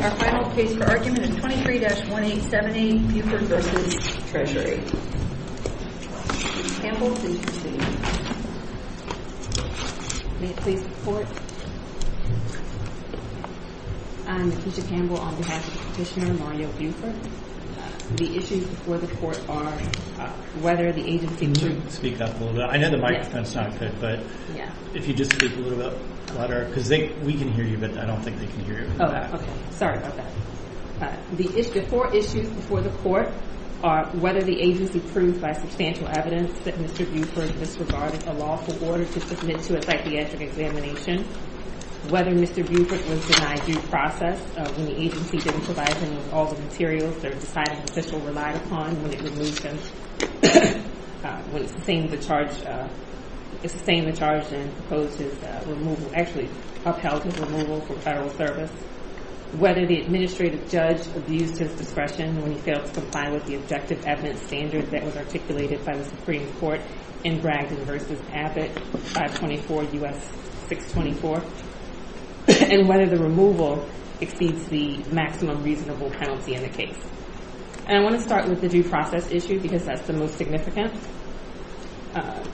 Our final case for argument is 23-1870, Buford v. Treasury. Ms. Campbell, please proceed. May it please the Court? I'm Leticia Campbell, on behalf of Petitioner Mario Buford. The issues before the Court are whether the agency... Can you speak up a little bit? I know the microphone's not good, but... Yeah. If you just speak a little bit louder, because we can hear you, but I don't think they can hear you. Oh, okay. Sorry about that. The four issues before the Court are whether the agency proved by substantial evidence that Mr. Buford disregarded a lawful order to submit to a psychiatric examination, whether Mr. Buford was denied due process when the agency didn't provide him with all the materials their deciding official relied upon when it removed him, when it sustained the charge and proposed his removal, actually upheld his removal from federal service, whether the administrative judge abused his discretion when he failed to comply with the objective evidence standard that was articulated by the Supreme Court in Bragdon v. Abbott, 524 U.S. 624, and whether the removal exceeds the maximum reasonable penalty in the case. And I want to start with the due process issue, because that's the most significant.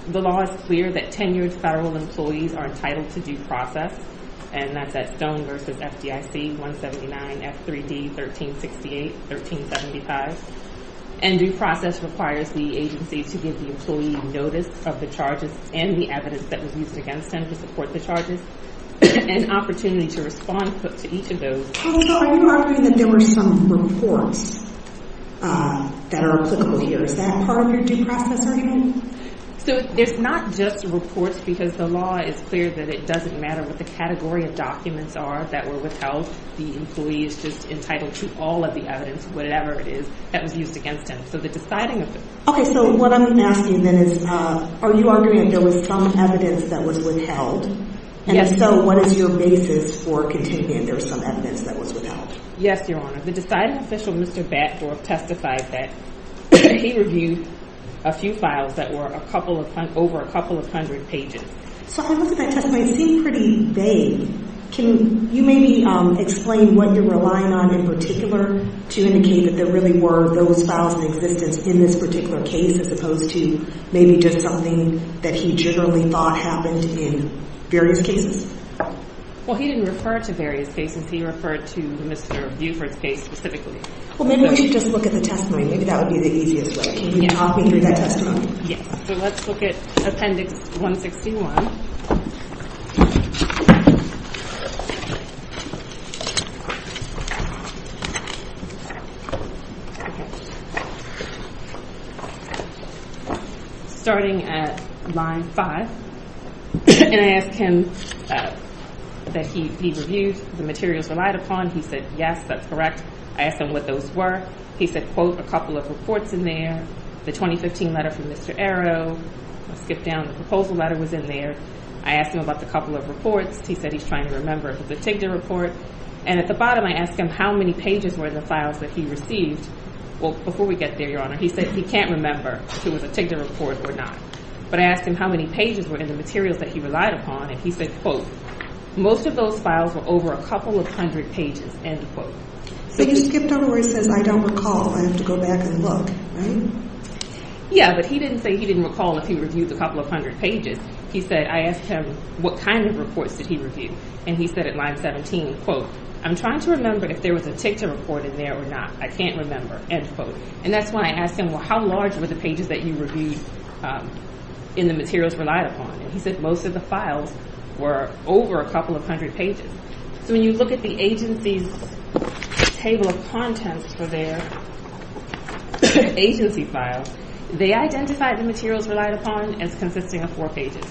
The law is clear that tenured federal employees are entitled to due process, and that's at Stone v. FDIC 179 F3D 1368-1375. And due process requires the agency to give the employee notice of the charges and the evidence that was used against them to support the charges and opportunity to respond to each of those. So are you arguing that there were some reports that are applicable here? Is that part of your due process argument? So there's not just reports, because the law is clear that it doesn't matter what the category of documents are that were withheld. The employee is just entitled to all of the evidence, whatever it is, that was used against him. So the deciding official. Okay, so what I'm asking then is, are you arguing that there was some evidence that was withheld? Yes. And so what is your basis for contending that there was some evidence that was withheld? Yes, Your Honor. The deciding official, Mr. Batford, testified that he reviewed a few files that were over a couple of hundred pages. So I look at that testimony and it seemed pretty vague. Can you maybe explain what you're relying on in particular to indicate that there really were those files in existence in this particular case as opposed to maybe just something that he generally thought happened in various cases? Well, he didn't refer to various cases. He referred to Mr. Buford's case specifically. Well, maybe we should just look at the testimony. Maybe that would be the easiest way. Can you talk me through that testimony? Yes. So let's look at Appendix 161. Okay. Starting at line 5, and I asked him that he reviewed the materials relied upon. He said, yes, that's correct. I asked him what those were. He said, quote, a couple of reports in there, the 2015 letter from Mr. Arrow. I skipped down. The proposal letter was in there. I asked him about the couple of reports. He said he's trying to remember if it was a TIGDA report. And at the bottom, I asked him how many pages were in the files that he received. Well, before we get there, Your Honor, he said he can't remember if it was a TIGDA report or not. But I asked him how many pages were in the materials that he relied upon, and he said, quote, most of those files were over a couple of hundred pages, end quote. So you skipped over where it says I don't recall. I have to go back and look, right? Yeah, but he didn't say he didn't recall if he reviewed a couple of hundred pages. He said I asked him what kind of reports did he review, and he said at line 17, quote, I'm trying to remember if there was a TIGDA report in there or not. I can't remember, end quote. And that's when I asked him, well, how large were the pages that you reviewed in the materials relied upon? And he said most of the files were over a couple of hundred pages. So when you look at the agency's table of contents for their agency files, they identified the materials relied upon as consisting of four pages,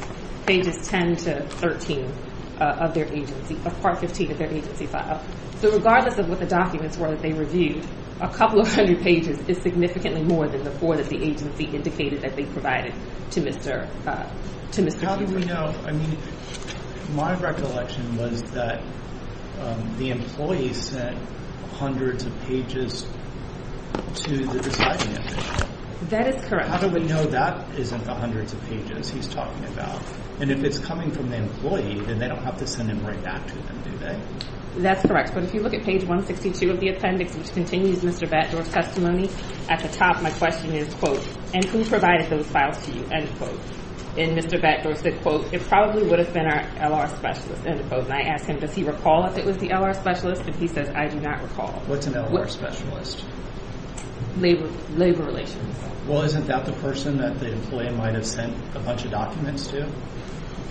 pages 10 to 13 of their agency, or part 15 of their agency file. So regardless of what the documents were that they reviewed, a couple of hundred pages is significantly more than the four that the agency indicated that they provided to Mr. Kiefer. But how do we know? I mean, my recollection was that the employee sent hundreds of pages to the deciding agency. That is correct. How do we know that isn't the hundreds of pages he's talking about? And if it's coming from the employee, then they don't have to send it right back to them, do they? That's correct. But if you look at page 162 of the appendix, which continues Mr. Batdorf's testimony, at the top my question is, quote, and who provided those files to you, end quote. And Mr. Batdorf said, quote, it probably would have been our L.R. specialist, end quote. And I asked him, does he recall if it was the L.R. specialist? And he says, I do not recall. What's an L.R. specialist? Labor relations. Well, isn't that the person that the employee might have sent a bunch of documents to?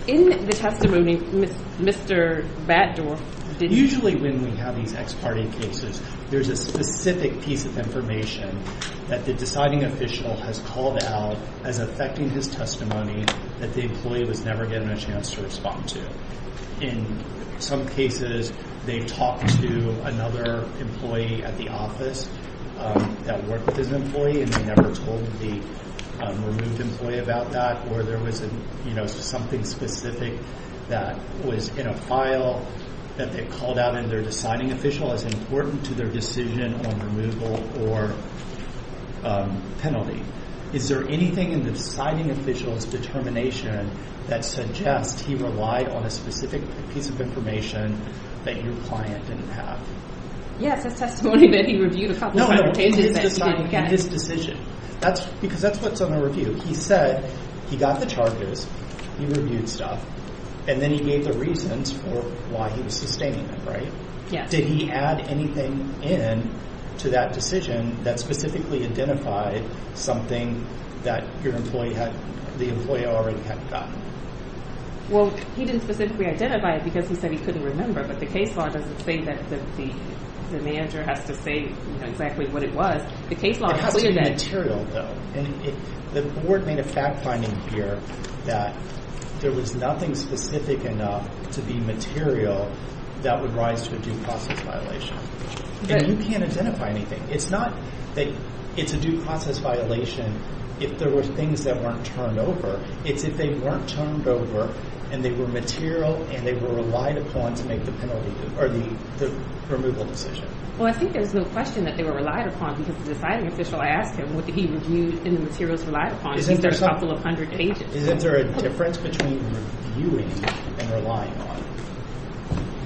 In the testimony, Mr. Batdorf didn't. Usually when we have these ex parte cases, there's a specific piece of information that the deciding official has called out as affecting his testimony that the employee was never given a chance to respond to. In some cases, they've talked to another employee at the office that worked with his employee and they never told the removed employee about that. Or there was something specific that was in a file that they called out in their deciding official as important to their decision on removal or penalty. Is there anything in the deciding official's determination that suggests he relied on a specific piece of information that your client didn't have? Yes, his testimony that he reviewed a couple of times. No, his decision. Because that's what's on the review. He said he got the charges, he reviewed stuff, and then he gave the reasons for why he was sustaining them, right? Yes. Did he add anything in to that decision that specifically identified something that the employee already had gotten? Well, he didn't specifically identify it because he said he couldn't remember, but the case law doesn't say that the manager has to say exactly what it was. The case law clears that. The board made a fact finding here that there was nothing specific enough to be material that would rise to a due process violation. And you can't identify anything. It's not that it's a due process violation if there were things that weren't turned over. It's if they weren't turned over and they were material and they were relied upon to make the removal decision. Well, I think there's no question that they were relied upon because the deciding official asked him what he reviewed and the materials relied upon. He said a couple of hundred pages. Isn't there a difference between reviewing and relying on?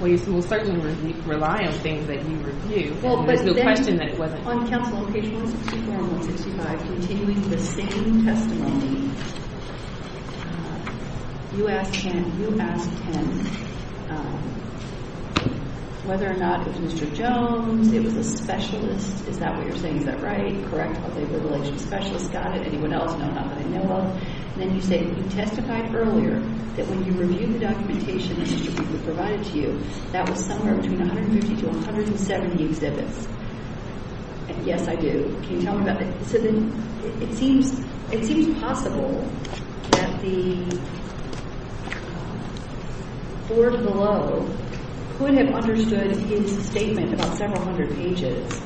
Well, you can certainly rely on things that you review. There's no question that it wasn't. On counsel, page 164 and 165, continuing the same testimony, you asked him whether or not it was Mr. Jones, it was a specialist. Is that what you're saying? Is that right? Correct? Are they related to specialists? Got it. Anyone else know how they know of? Then you say you testified earlier that when you reviewed the documentation that Mr. Beasley provided to you, that was somewhere between 150 to 170 exhibits. And yes, I do. Can you tell me about that? So then it seems possible that the board below could have understood his statement about several hundred pages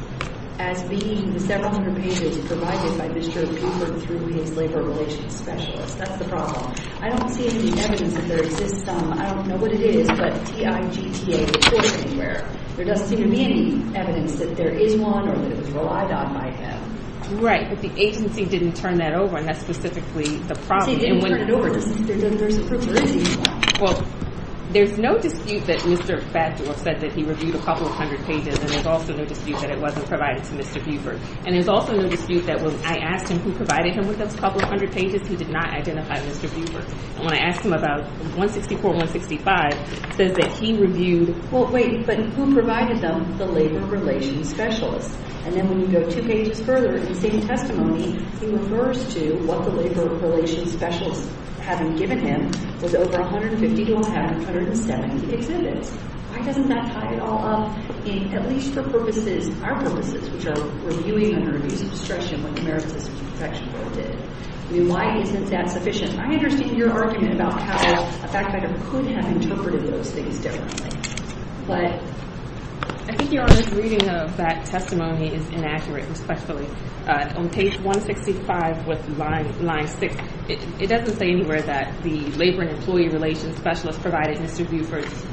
as being the several hundred pages provided by Mr. Cooper through his labor relations specialist. That's the problem. I don't see any evidence that there exists. I don't know what it is, but TIGTA reported anywhere. There doesn't seem to be any evidence that there is one or that it was relied on by him. Right. But the agency didn't turn that over, and that's specifically the problem. See, they didn't turn it over. There's a proof there is one. Well, there's no dispute that Mr. Baddour said that he reviewed a couple hundred pages, and there's also no dispute that it wasn't provided to Mr. Buford. And there's also no dispute that when I asked him who provided him with those couple hundred pages, he did not identify Mr. Buford. And when I asked him about 164 and 165, it says that he reviewed – Well, wait. But who provided them? The labor relations specialist. And then when you go two pages further, in the same testimony, he refers to what the labor relations specialist, having given him, was over 150 to 170 exhibits. Why doesn't that tie it all up in at least for purposes, our purposes, which are reviewing under abuse of discretion what the merit system protection bill did? I mean, why isn't that sufficient? I understand your argument about how that kind of could have interpreted those things differently. But I think Your Honor's reading of that testimony is inaccurate, especially on page 165 with line 6. It doesn't say anywhere that the labor and employee relations specialist provided Mr. Buford's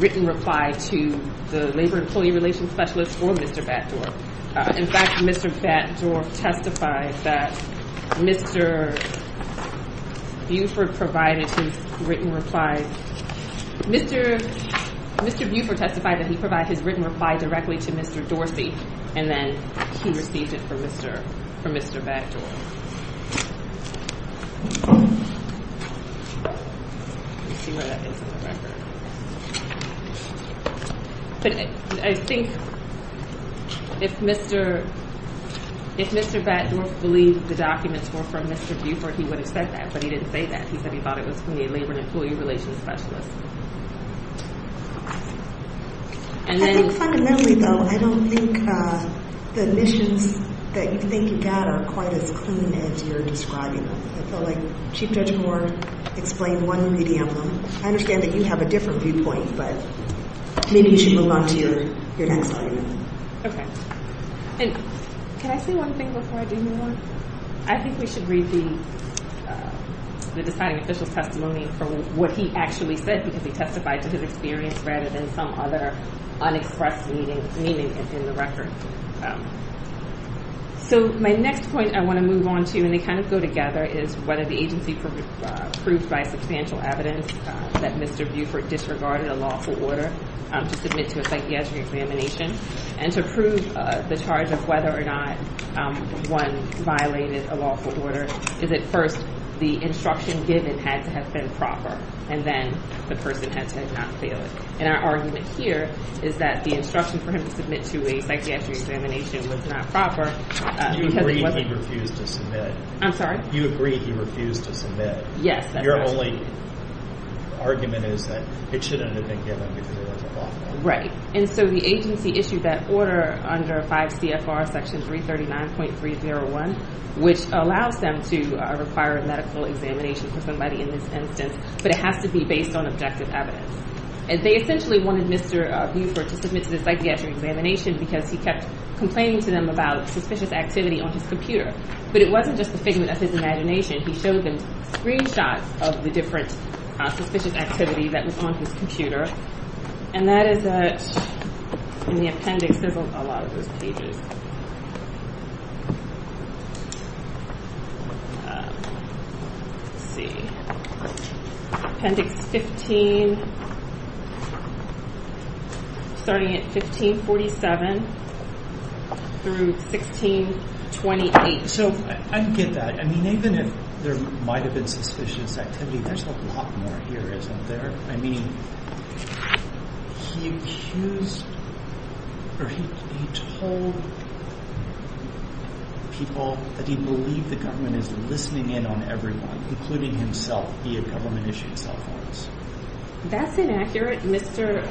written reply to the labor and employee relations specialist or Mr. Baddour. In fact, Mr. Baddour testified that Mr. Buford provided his written reply. Mr. Buford testified that he provided his written reply directly to Mr. Dorsey, and then he received it from Mr. Baddour. But I think if Mr. Baddour believed the documents were from Mr. Buford, he would have said that, but he didn't say that. He said he thought it was from the labor and employee relations specialist. I think fundamentally, though, I don't think the admissions that you think you got are quite as clean as you're describing them. I feel like Chief Judge Gore explained one medium. I understand that you have a different viewpoint, but maybe you should move on to your next argument. Okay. And can I say one thing before I do move on? I think we should read the deciding official's testimony for what he actually said, because he testified to his experience rather than some other unexpressed meaning in the record. So my next point I want to move on to, and they kind of go together, is whether the agency proved by substantial evidence that Mr. Buford disregarded a lawful order to submit to a psychiatric examination and to prove the charge of whether or not one violated a lawful order is, at first, the instruction given had to have been proper, and then the person had to have not failed. And our argument here is that the instruction for him to submit to a psychiatric examination was not proper. You agreed he refused to submit. I'm sorry? You agreed he refused to submit. Yes. Your only argument is that it shouldn't have been given because it wasn't lawful. Right. And so the agency issued that order under 5 CFR Section 339.301, which allows them to require a medical examination for somebody in this instance, but it has to be based on objective evidence. And they essentially wanted Mr. Buford to submit to the psychiatric examination because he kept complaining to them about suspicious activity on his computer. But it wasn't just the figment of his imagination. He showed them screenshots of the different suspicious activity that was on his computer, and that is in the appendix. There's a lot of those pages. Let's see. Appendix 15, starting at 1547 through 1628. So I get that. I mean, even if there might have been suspicious activity, there's a lot more here, isn't there? I mean, he accused or he told people that he believed the government is listening in on everyone, including himself, via government-issued cell phones. That's inaccurate. Mr.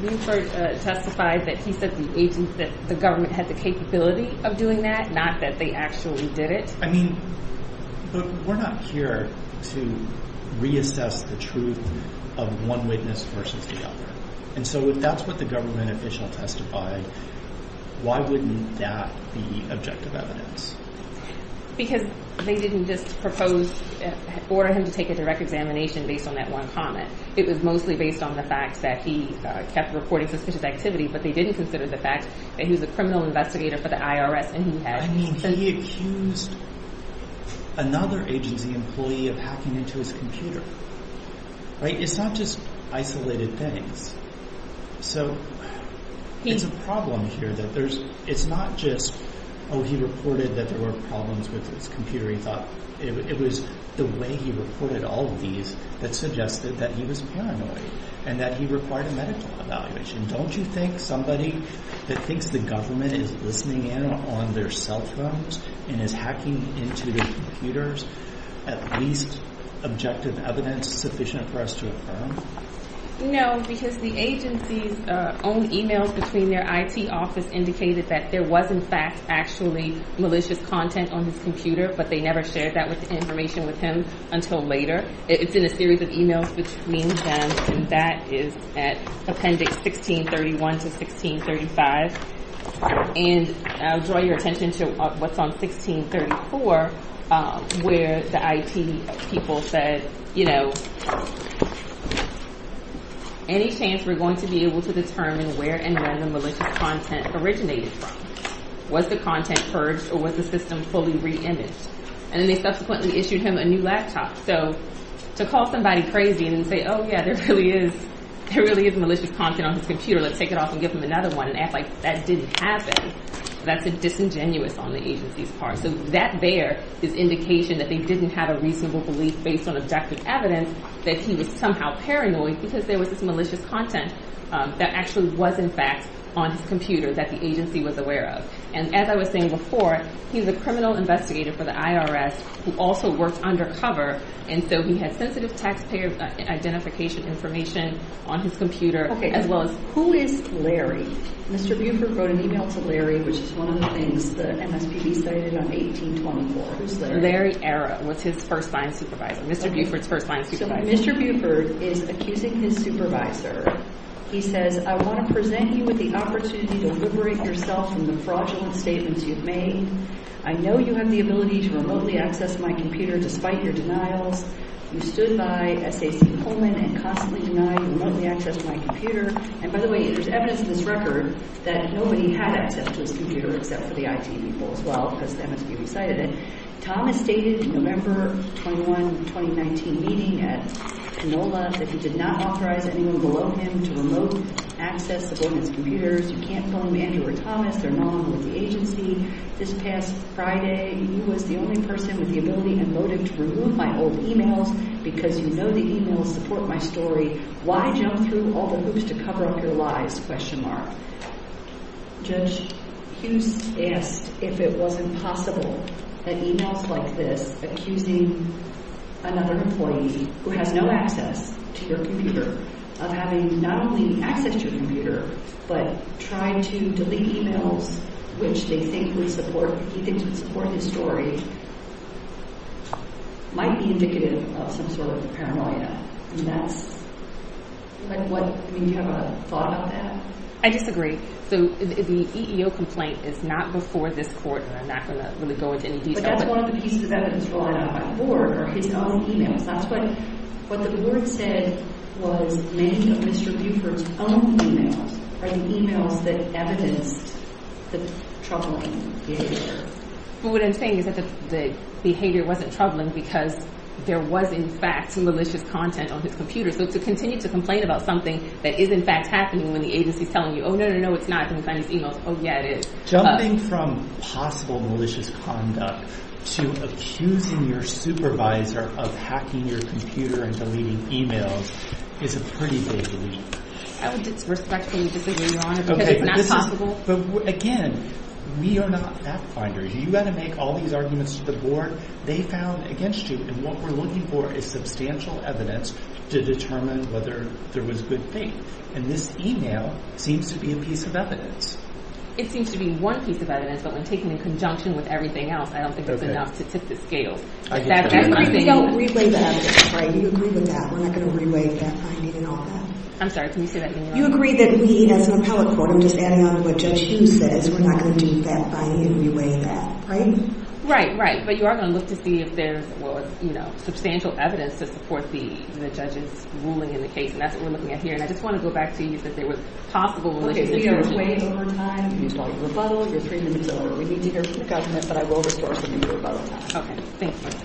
Buford testified that he said the government had the capability of doing that, not that they actually did it. I mean, but we're not here to reassess the truth of one witness versus the other. And so if that's what the government official testified, why wouldn't that be objective evidence? Because they didn't just propose, order him to take a direct examination based on that one comment. It was mostly based on the fact that he kept reporting suspicious activity, but they didn't consider the fact that he was a criminal investigator for the IRS. I mean, he accused another agency employee of hacking into his computer. It's not just isolated things. So it's a problem here that it's not just, oh, he reported that there were problems with his computer. It was the way he reported all of these that suggested that he was paranoid and that he required a medical evaluation. Don't you think somebody that thinks the government is listening in on their cell phones and is hacking into their computers, at least objective evidence sufficient for us to affirm? No, because the agency's own e-mails between their IT office indicated that there was, in fact, actually malicious content on his computer, but they never shared that information with him until later. It's in a series of e-mails between them, and that is at appendix 1631 to 1635. And I'll draw your attention to what's on 1634, where the IT people said, you know, any chance we're going to be able to determine where and when the malicious content originated from? Was the content purged, or was the system fully re-imaged? And then they subsequently issued him a new laptop. So to call somebody crazy and say, oh, yeah, there really is malicious content on his computer, let's take it off and give him another one and act like that didn't happen, that's disingenuous on the agency's part. So that there is indication that they didn't have a reasonable belief based on objective evidence that he was somehow paranoid because there was this malicious content that actually was, in fact, on his computer that the agency was aware of. And as I was saying before, he's a criminal investigator for the IRS who also works undercover, and so he has sensitive taxpayer identification information on his computer, as well as who is Larry? Mr. Buford wrote an e-mail to Larry, which is one of the things the MSPB cited on 1824. Who's Larry? Larry Arrow was his first line supervisor, Mr. Buford's first line supervisor. So Mr. Buford is accusing his supervisor. He says, I want to present you with the opportunity to liberate yourself from the fraudulent statements you've made. I know you have the ability to remotely access my computer despite your denials. You stood by SAC Pullman and constantly denied remotely access to my computer. And by the way, there's evidence in this record that nobody had access to his computer except for the IT people, as well, because the MSPB cited it. Thomas stated in a November 21, 2019 meeting at Canola that he did not authorize anyone below him to remote access the boardman's computers. You can't phone Andrew or Thomas. They're not on with the agency. This past Friday, he was the only person with the ability and motive to remove my old e-mails because you know the e-mails support my story. Why jump through all the hoops to cover up your lies? Judge Hughes asked if it wasn't possible that e-mails like this, accusing another employee who has no access to your computer, of having not only access to your computer but trying to delete e-mails which they think would support, he thinks would support his story, might be indicative of some sort of paranoia. Do you have a thought about that? I disagree. The EEO complaint is not before this court, and I'm not going to really go into any details. But that's one of the pieces of evidence rolling out by the board are his own e-mails. What the board said was many of Mr. Buford's own e-mails are the e-mails that evidenced the troubling behavior. But what I'm saying is that the behavior wasn't troubling because there was in fact malicious content on his computer. So to continue to complain about something that is in fact happening when the agency is telling you, oh, no, no, no, it's not. I can find these e-mails. Oh, yeah, it is. Jumping from possible malicious conduct to accusing your supervisor of hacking your computer and deleting e-mails is a pretty big leap. I would respectfully disagree, Your Honor, because it's not possible. But, again, we are not fact-finders. You've got to make all these arguments to the board. They found against you, and what we're looking for is substantial evidence to determine whether there was good faith. And this e-mail seems to be a piece of evidence. It seems to be one piece of evidence, but when taken in conjunction with everything else, I don't think it's enough to tip the scales. I agree with that. We're not going to relay that finding and all that. I'm sorry. Can you say that again, Your Honor? You agree that we, as an appellate court, I'm just adding on to what Judge Hughes said, is we're not going to do that finding and relay that, right? Right, right. But you are going to look to see if there's, well, you know, substantial evidence to support the judge's ruling in the case. And that's what we're looking at here. And I just want to go back to you that there was possible malicious intention. Okay. We will wait over time. We need to hear from the government, but I will restore to you the rebuttal. Okay. Thank you.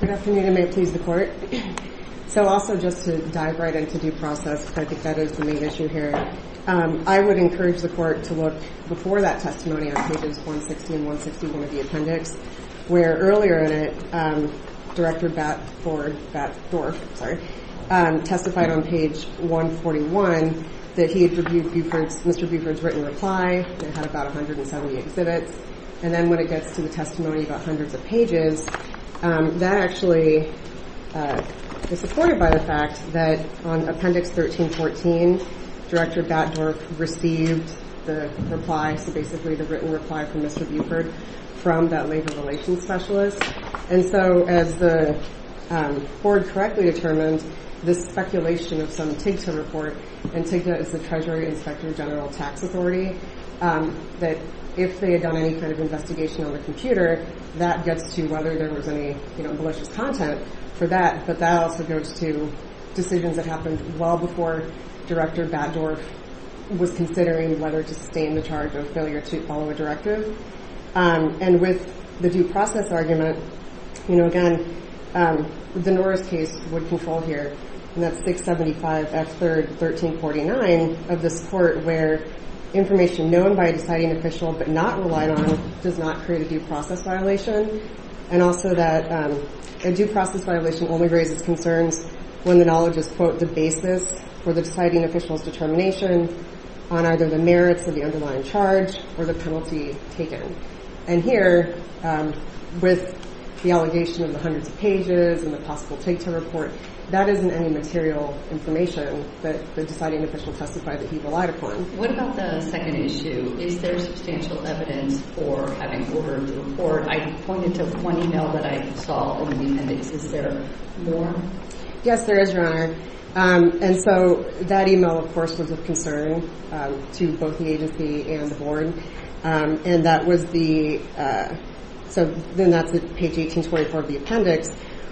Good afternoon. I may please the court. So, also, just to dive right into due process, because I think that is the main issue here, I would encourage the court to look before that testimony on pages 160 and 161 of the appendix, where earlier in it, Director Batt-Ford, Batt-Dorf, sorry, testified on page 141 that he had reviewed Buford's, Mr. Buford's written reply. It had about 170 exhibits. And then when it gets to the testimony about hundreds of pages, that actually is supported by the fact that on appendix 1314, Director Batt-Dorf received the reply, so basically the written reply from Mr. Buford from that labor relations specialist. And so as the court correctly determined, this speculation of some TIGTA report, and TIGTA is the Treasury Inspector General Tax Authority, that if they had done any kind of investigation on the computer, that gets to whether there was any malicious content for that. But that also goes to decisions that happened well before Director Batt-Dorf was considering whether to sustain the charge of failure to follow a directive. And with the due process argument, you know, again, the Norris case would control here. And that's 675x3, 1349 of this court where information known by a deciding official but not relied on does not create a due process violation. And also that a due process violation only raises concerns when the knowledge is, quote, for the deciding official's determination on either the merits of the underlying charge or the penalty taken. And here, with the allegation of the hundreds of pages and the possible TIGTA report, that isn't any material information that the deciding official testified that he relied upon. What about the second issue? Is there substantial evidence for having ordered the report? I pointed to one email that I saw on the appendix. Is there more? Yes, there is, Ron. And so that email, of course, was of concern to both the agency and the board. And that was the – so then that's page 1824 of the appendix,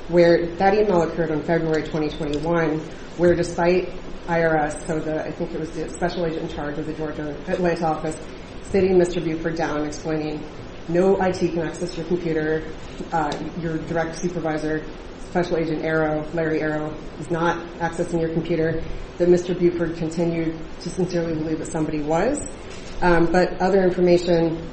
where that email occurred on February 2021, where despite IRS – so I think it was the special agent in charge of the Georgia Atlanta office – sitting Mr. Buford down, explaining no IT can access your computer, your direct supervisor, special agent Arrow, Larry Arrow, is not accessing your computer, that Mr. Buford continued to sincerely believe that somebody was. But other information,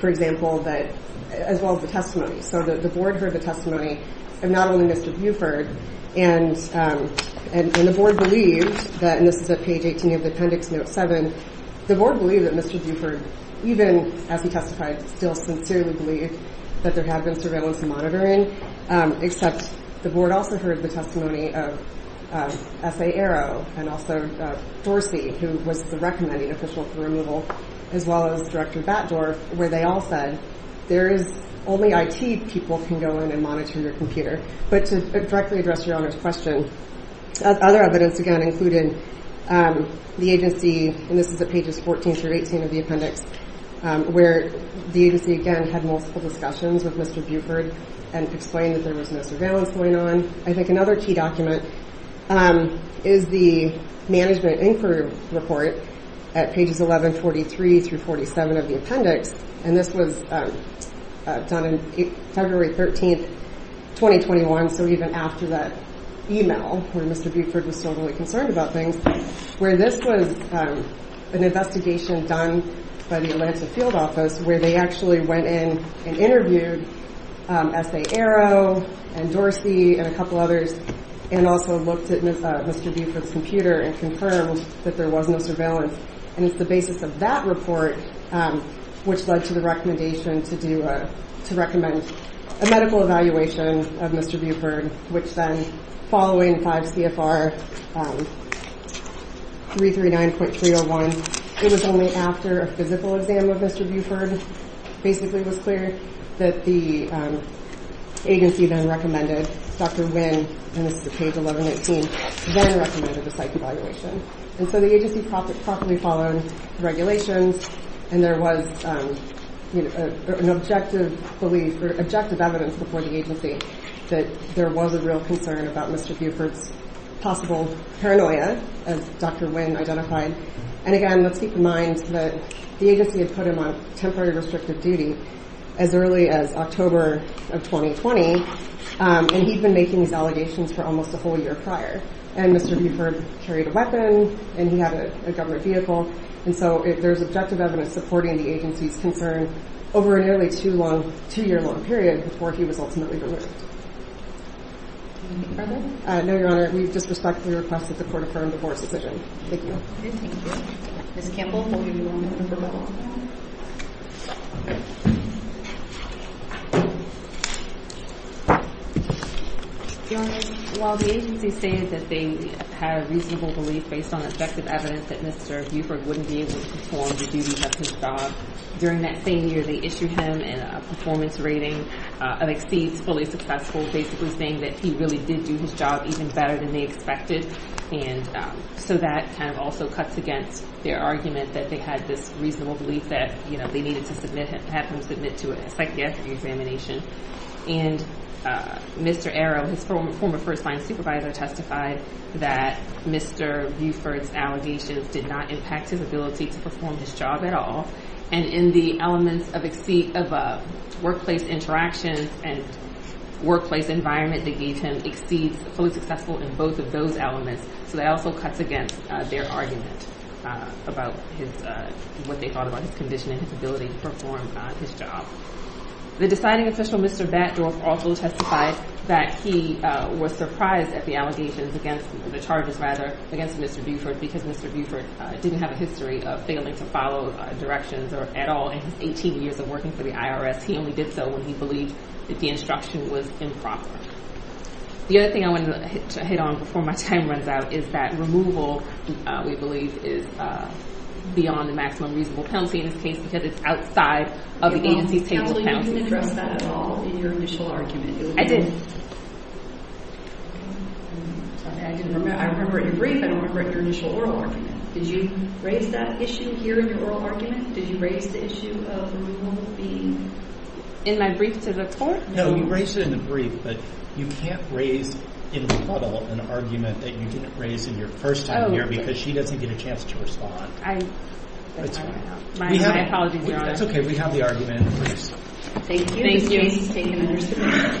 for example, that – as well as the testimony. So the board heard the testimony of not only Mr. Buford, and the board believed that – and this is at page 18 of the appendix, note 7 – the board believed that Mr. Buford, even as he testified, still sincerely believed that there had been surveillance and monitoring, except the board also heard the testimony of S.A. Arrow and also Dorsey, who was the recommending official for removal, as well as Director Batdorf, where they all said there is – only IT people can go in and monitor your computer. But to directly address Your Honor's question, other evidence, again, included the agency – and this is at pages 14 through 18 of the appendix – where the agency, again, had multiple discussions with Mr. Buford and explained that there was no surveillance going on. I think another key document is the management inquiry report at pages 1143 through 47 of the appendix, and this was done on February 13, 2021, so even after that email where Mr. Buford was still really concerned about things, where this was an investigation done by the Atlanta field office where they actually went in and interviewed S.A. Arrow and Dorsey and a couple others and also looked at Mr. Buford's computer and confirmed that there was no surveillance. And it's the basis of that report which led to the recommendation to do a – to recommend a medical evaluation of Mr. Buford, which then, following 5 CFR 339.301, it was only after a physical exam of Mr. Buford, basically, was cleared, that the agency then recommended – Dr. Wynn – and this is at page 1118 – then recommended a psych evaluation. And so the agency properly followed the regulations, and there was an objective belief or objective evidence before the agency that there was a real concern about Mr. Buford's possible paranoia, as Dr. Wynn identified. And again, let's keep in mind that the agency had put him on temporary restrictive duty as early as October of 2020, and he'd been making his allegations for almost a whole year prior. And Mr. Buford carried a weapon, and he had a government vehicle. And so there's objective evidence supporting the agency's concern over a nearly two-year-long period before he was ultimately removed. Do you want to make further? No, Your Honor. We've just respectfully requested the court affirm the court's decision. Thank you. Ms. Kimball, do you want to come to the podium? Your Honor, while the agency stated that they had a reasonable belief based on objective evidence that Mr. Buford wouldn't be able to perform the duty of his job, during that same year, they issued him a performance rating of exceeds fully successful, basically saying that he really did do his job even better than they expected. And so that kind of also cuts against their argument that they had this reasonable belief that, you know, they needed to have him submit to a psychiatric examination. And Mr. Arrow, his former first-line supervisor, testified that Mr. Buford's allegations did not impact his ability to perform his job at all. And in the elements of workplace interactions and workplace environment that gave him exceeds fully successful in both of those elements. So that also cuts against their argument about what they thought about his condition and his ability to perform his job. The deciding official, Mr. Batdorf, also testified that he was surprised at the allegations against – that Mr. Buford didn't have a history of failing to follow directions at all in his 18 years of working for the IRS. He only did so when he believed that the instruction was improper. The other thing I wanted to hit on before my time runs out is that removal, we believe, is beyond the maximum reasonable penalty in this case because it's outside of the agency's table of penalty. Your Honor, so you didn't address that at all in your initial argument? I didn't. I didn't remember. I remember at your brief. I don't remember at your initial oral argument. Did you raise that issue here in your oral argument? Did you raise the issue of the removal being? In my brief to the court? No, you raised it in the brief, but you can't raise in the puddle an argument that you didn't raise in your first time here because she doesn't get a chance to respond. I apologize, Your Honor. That's okay. We have the argument in the brief. Thank you. Thank you.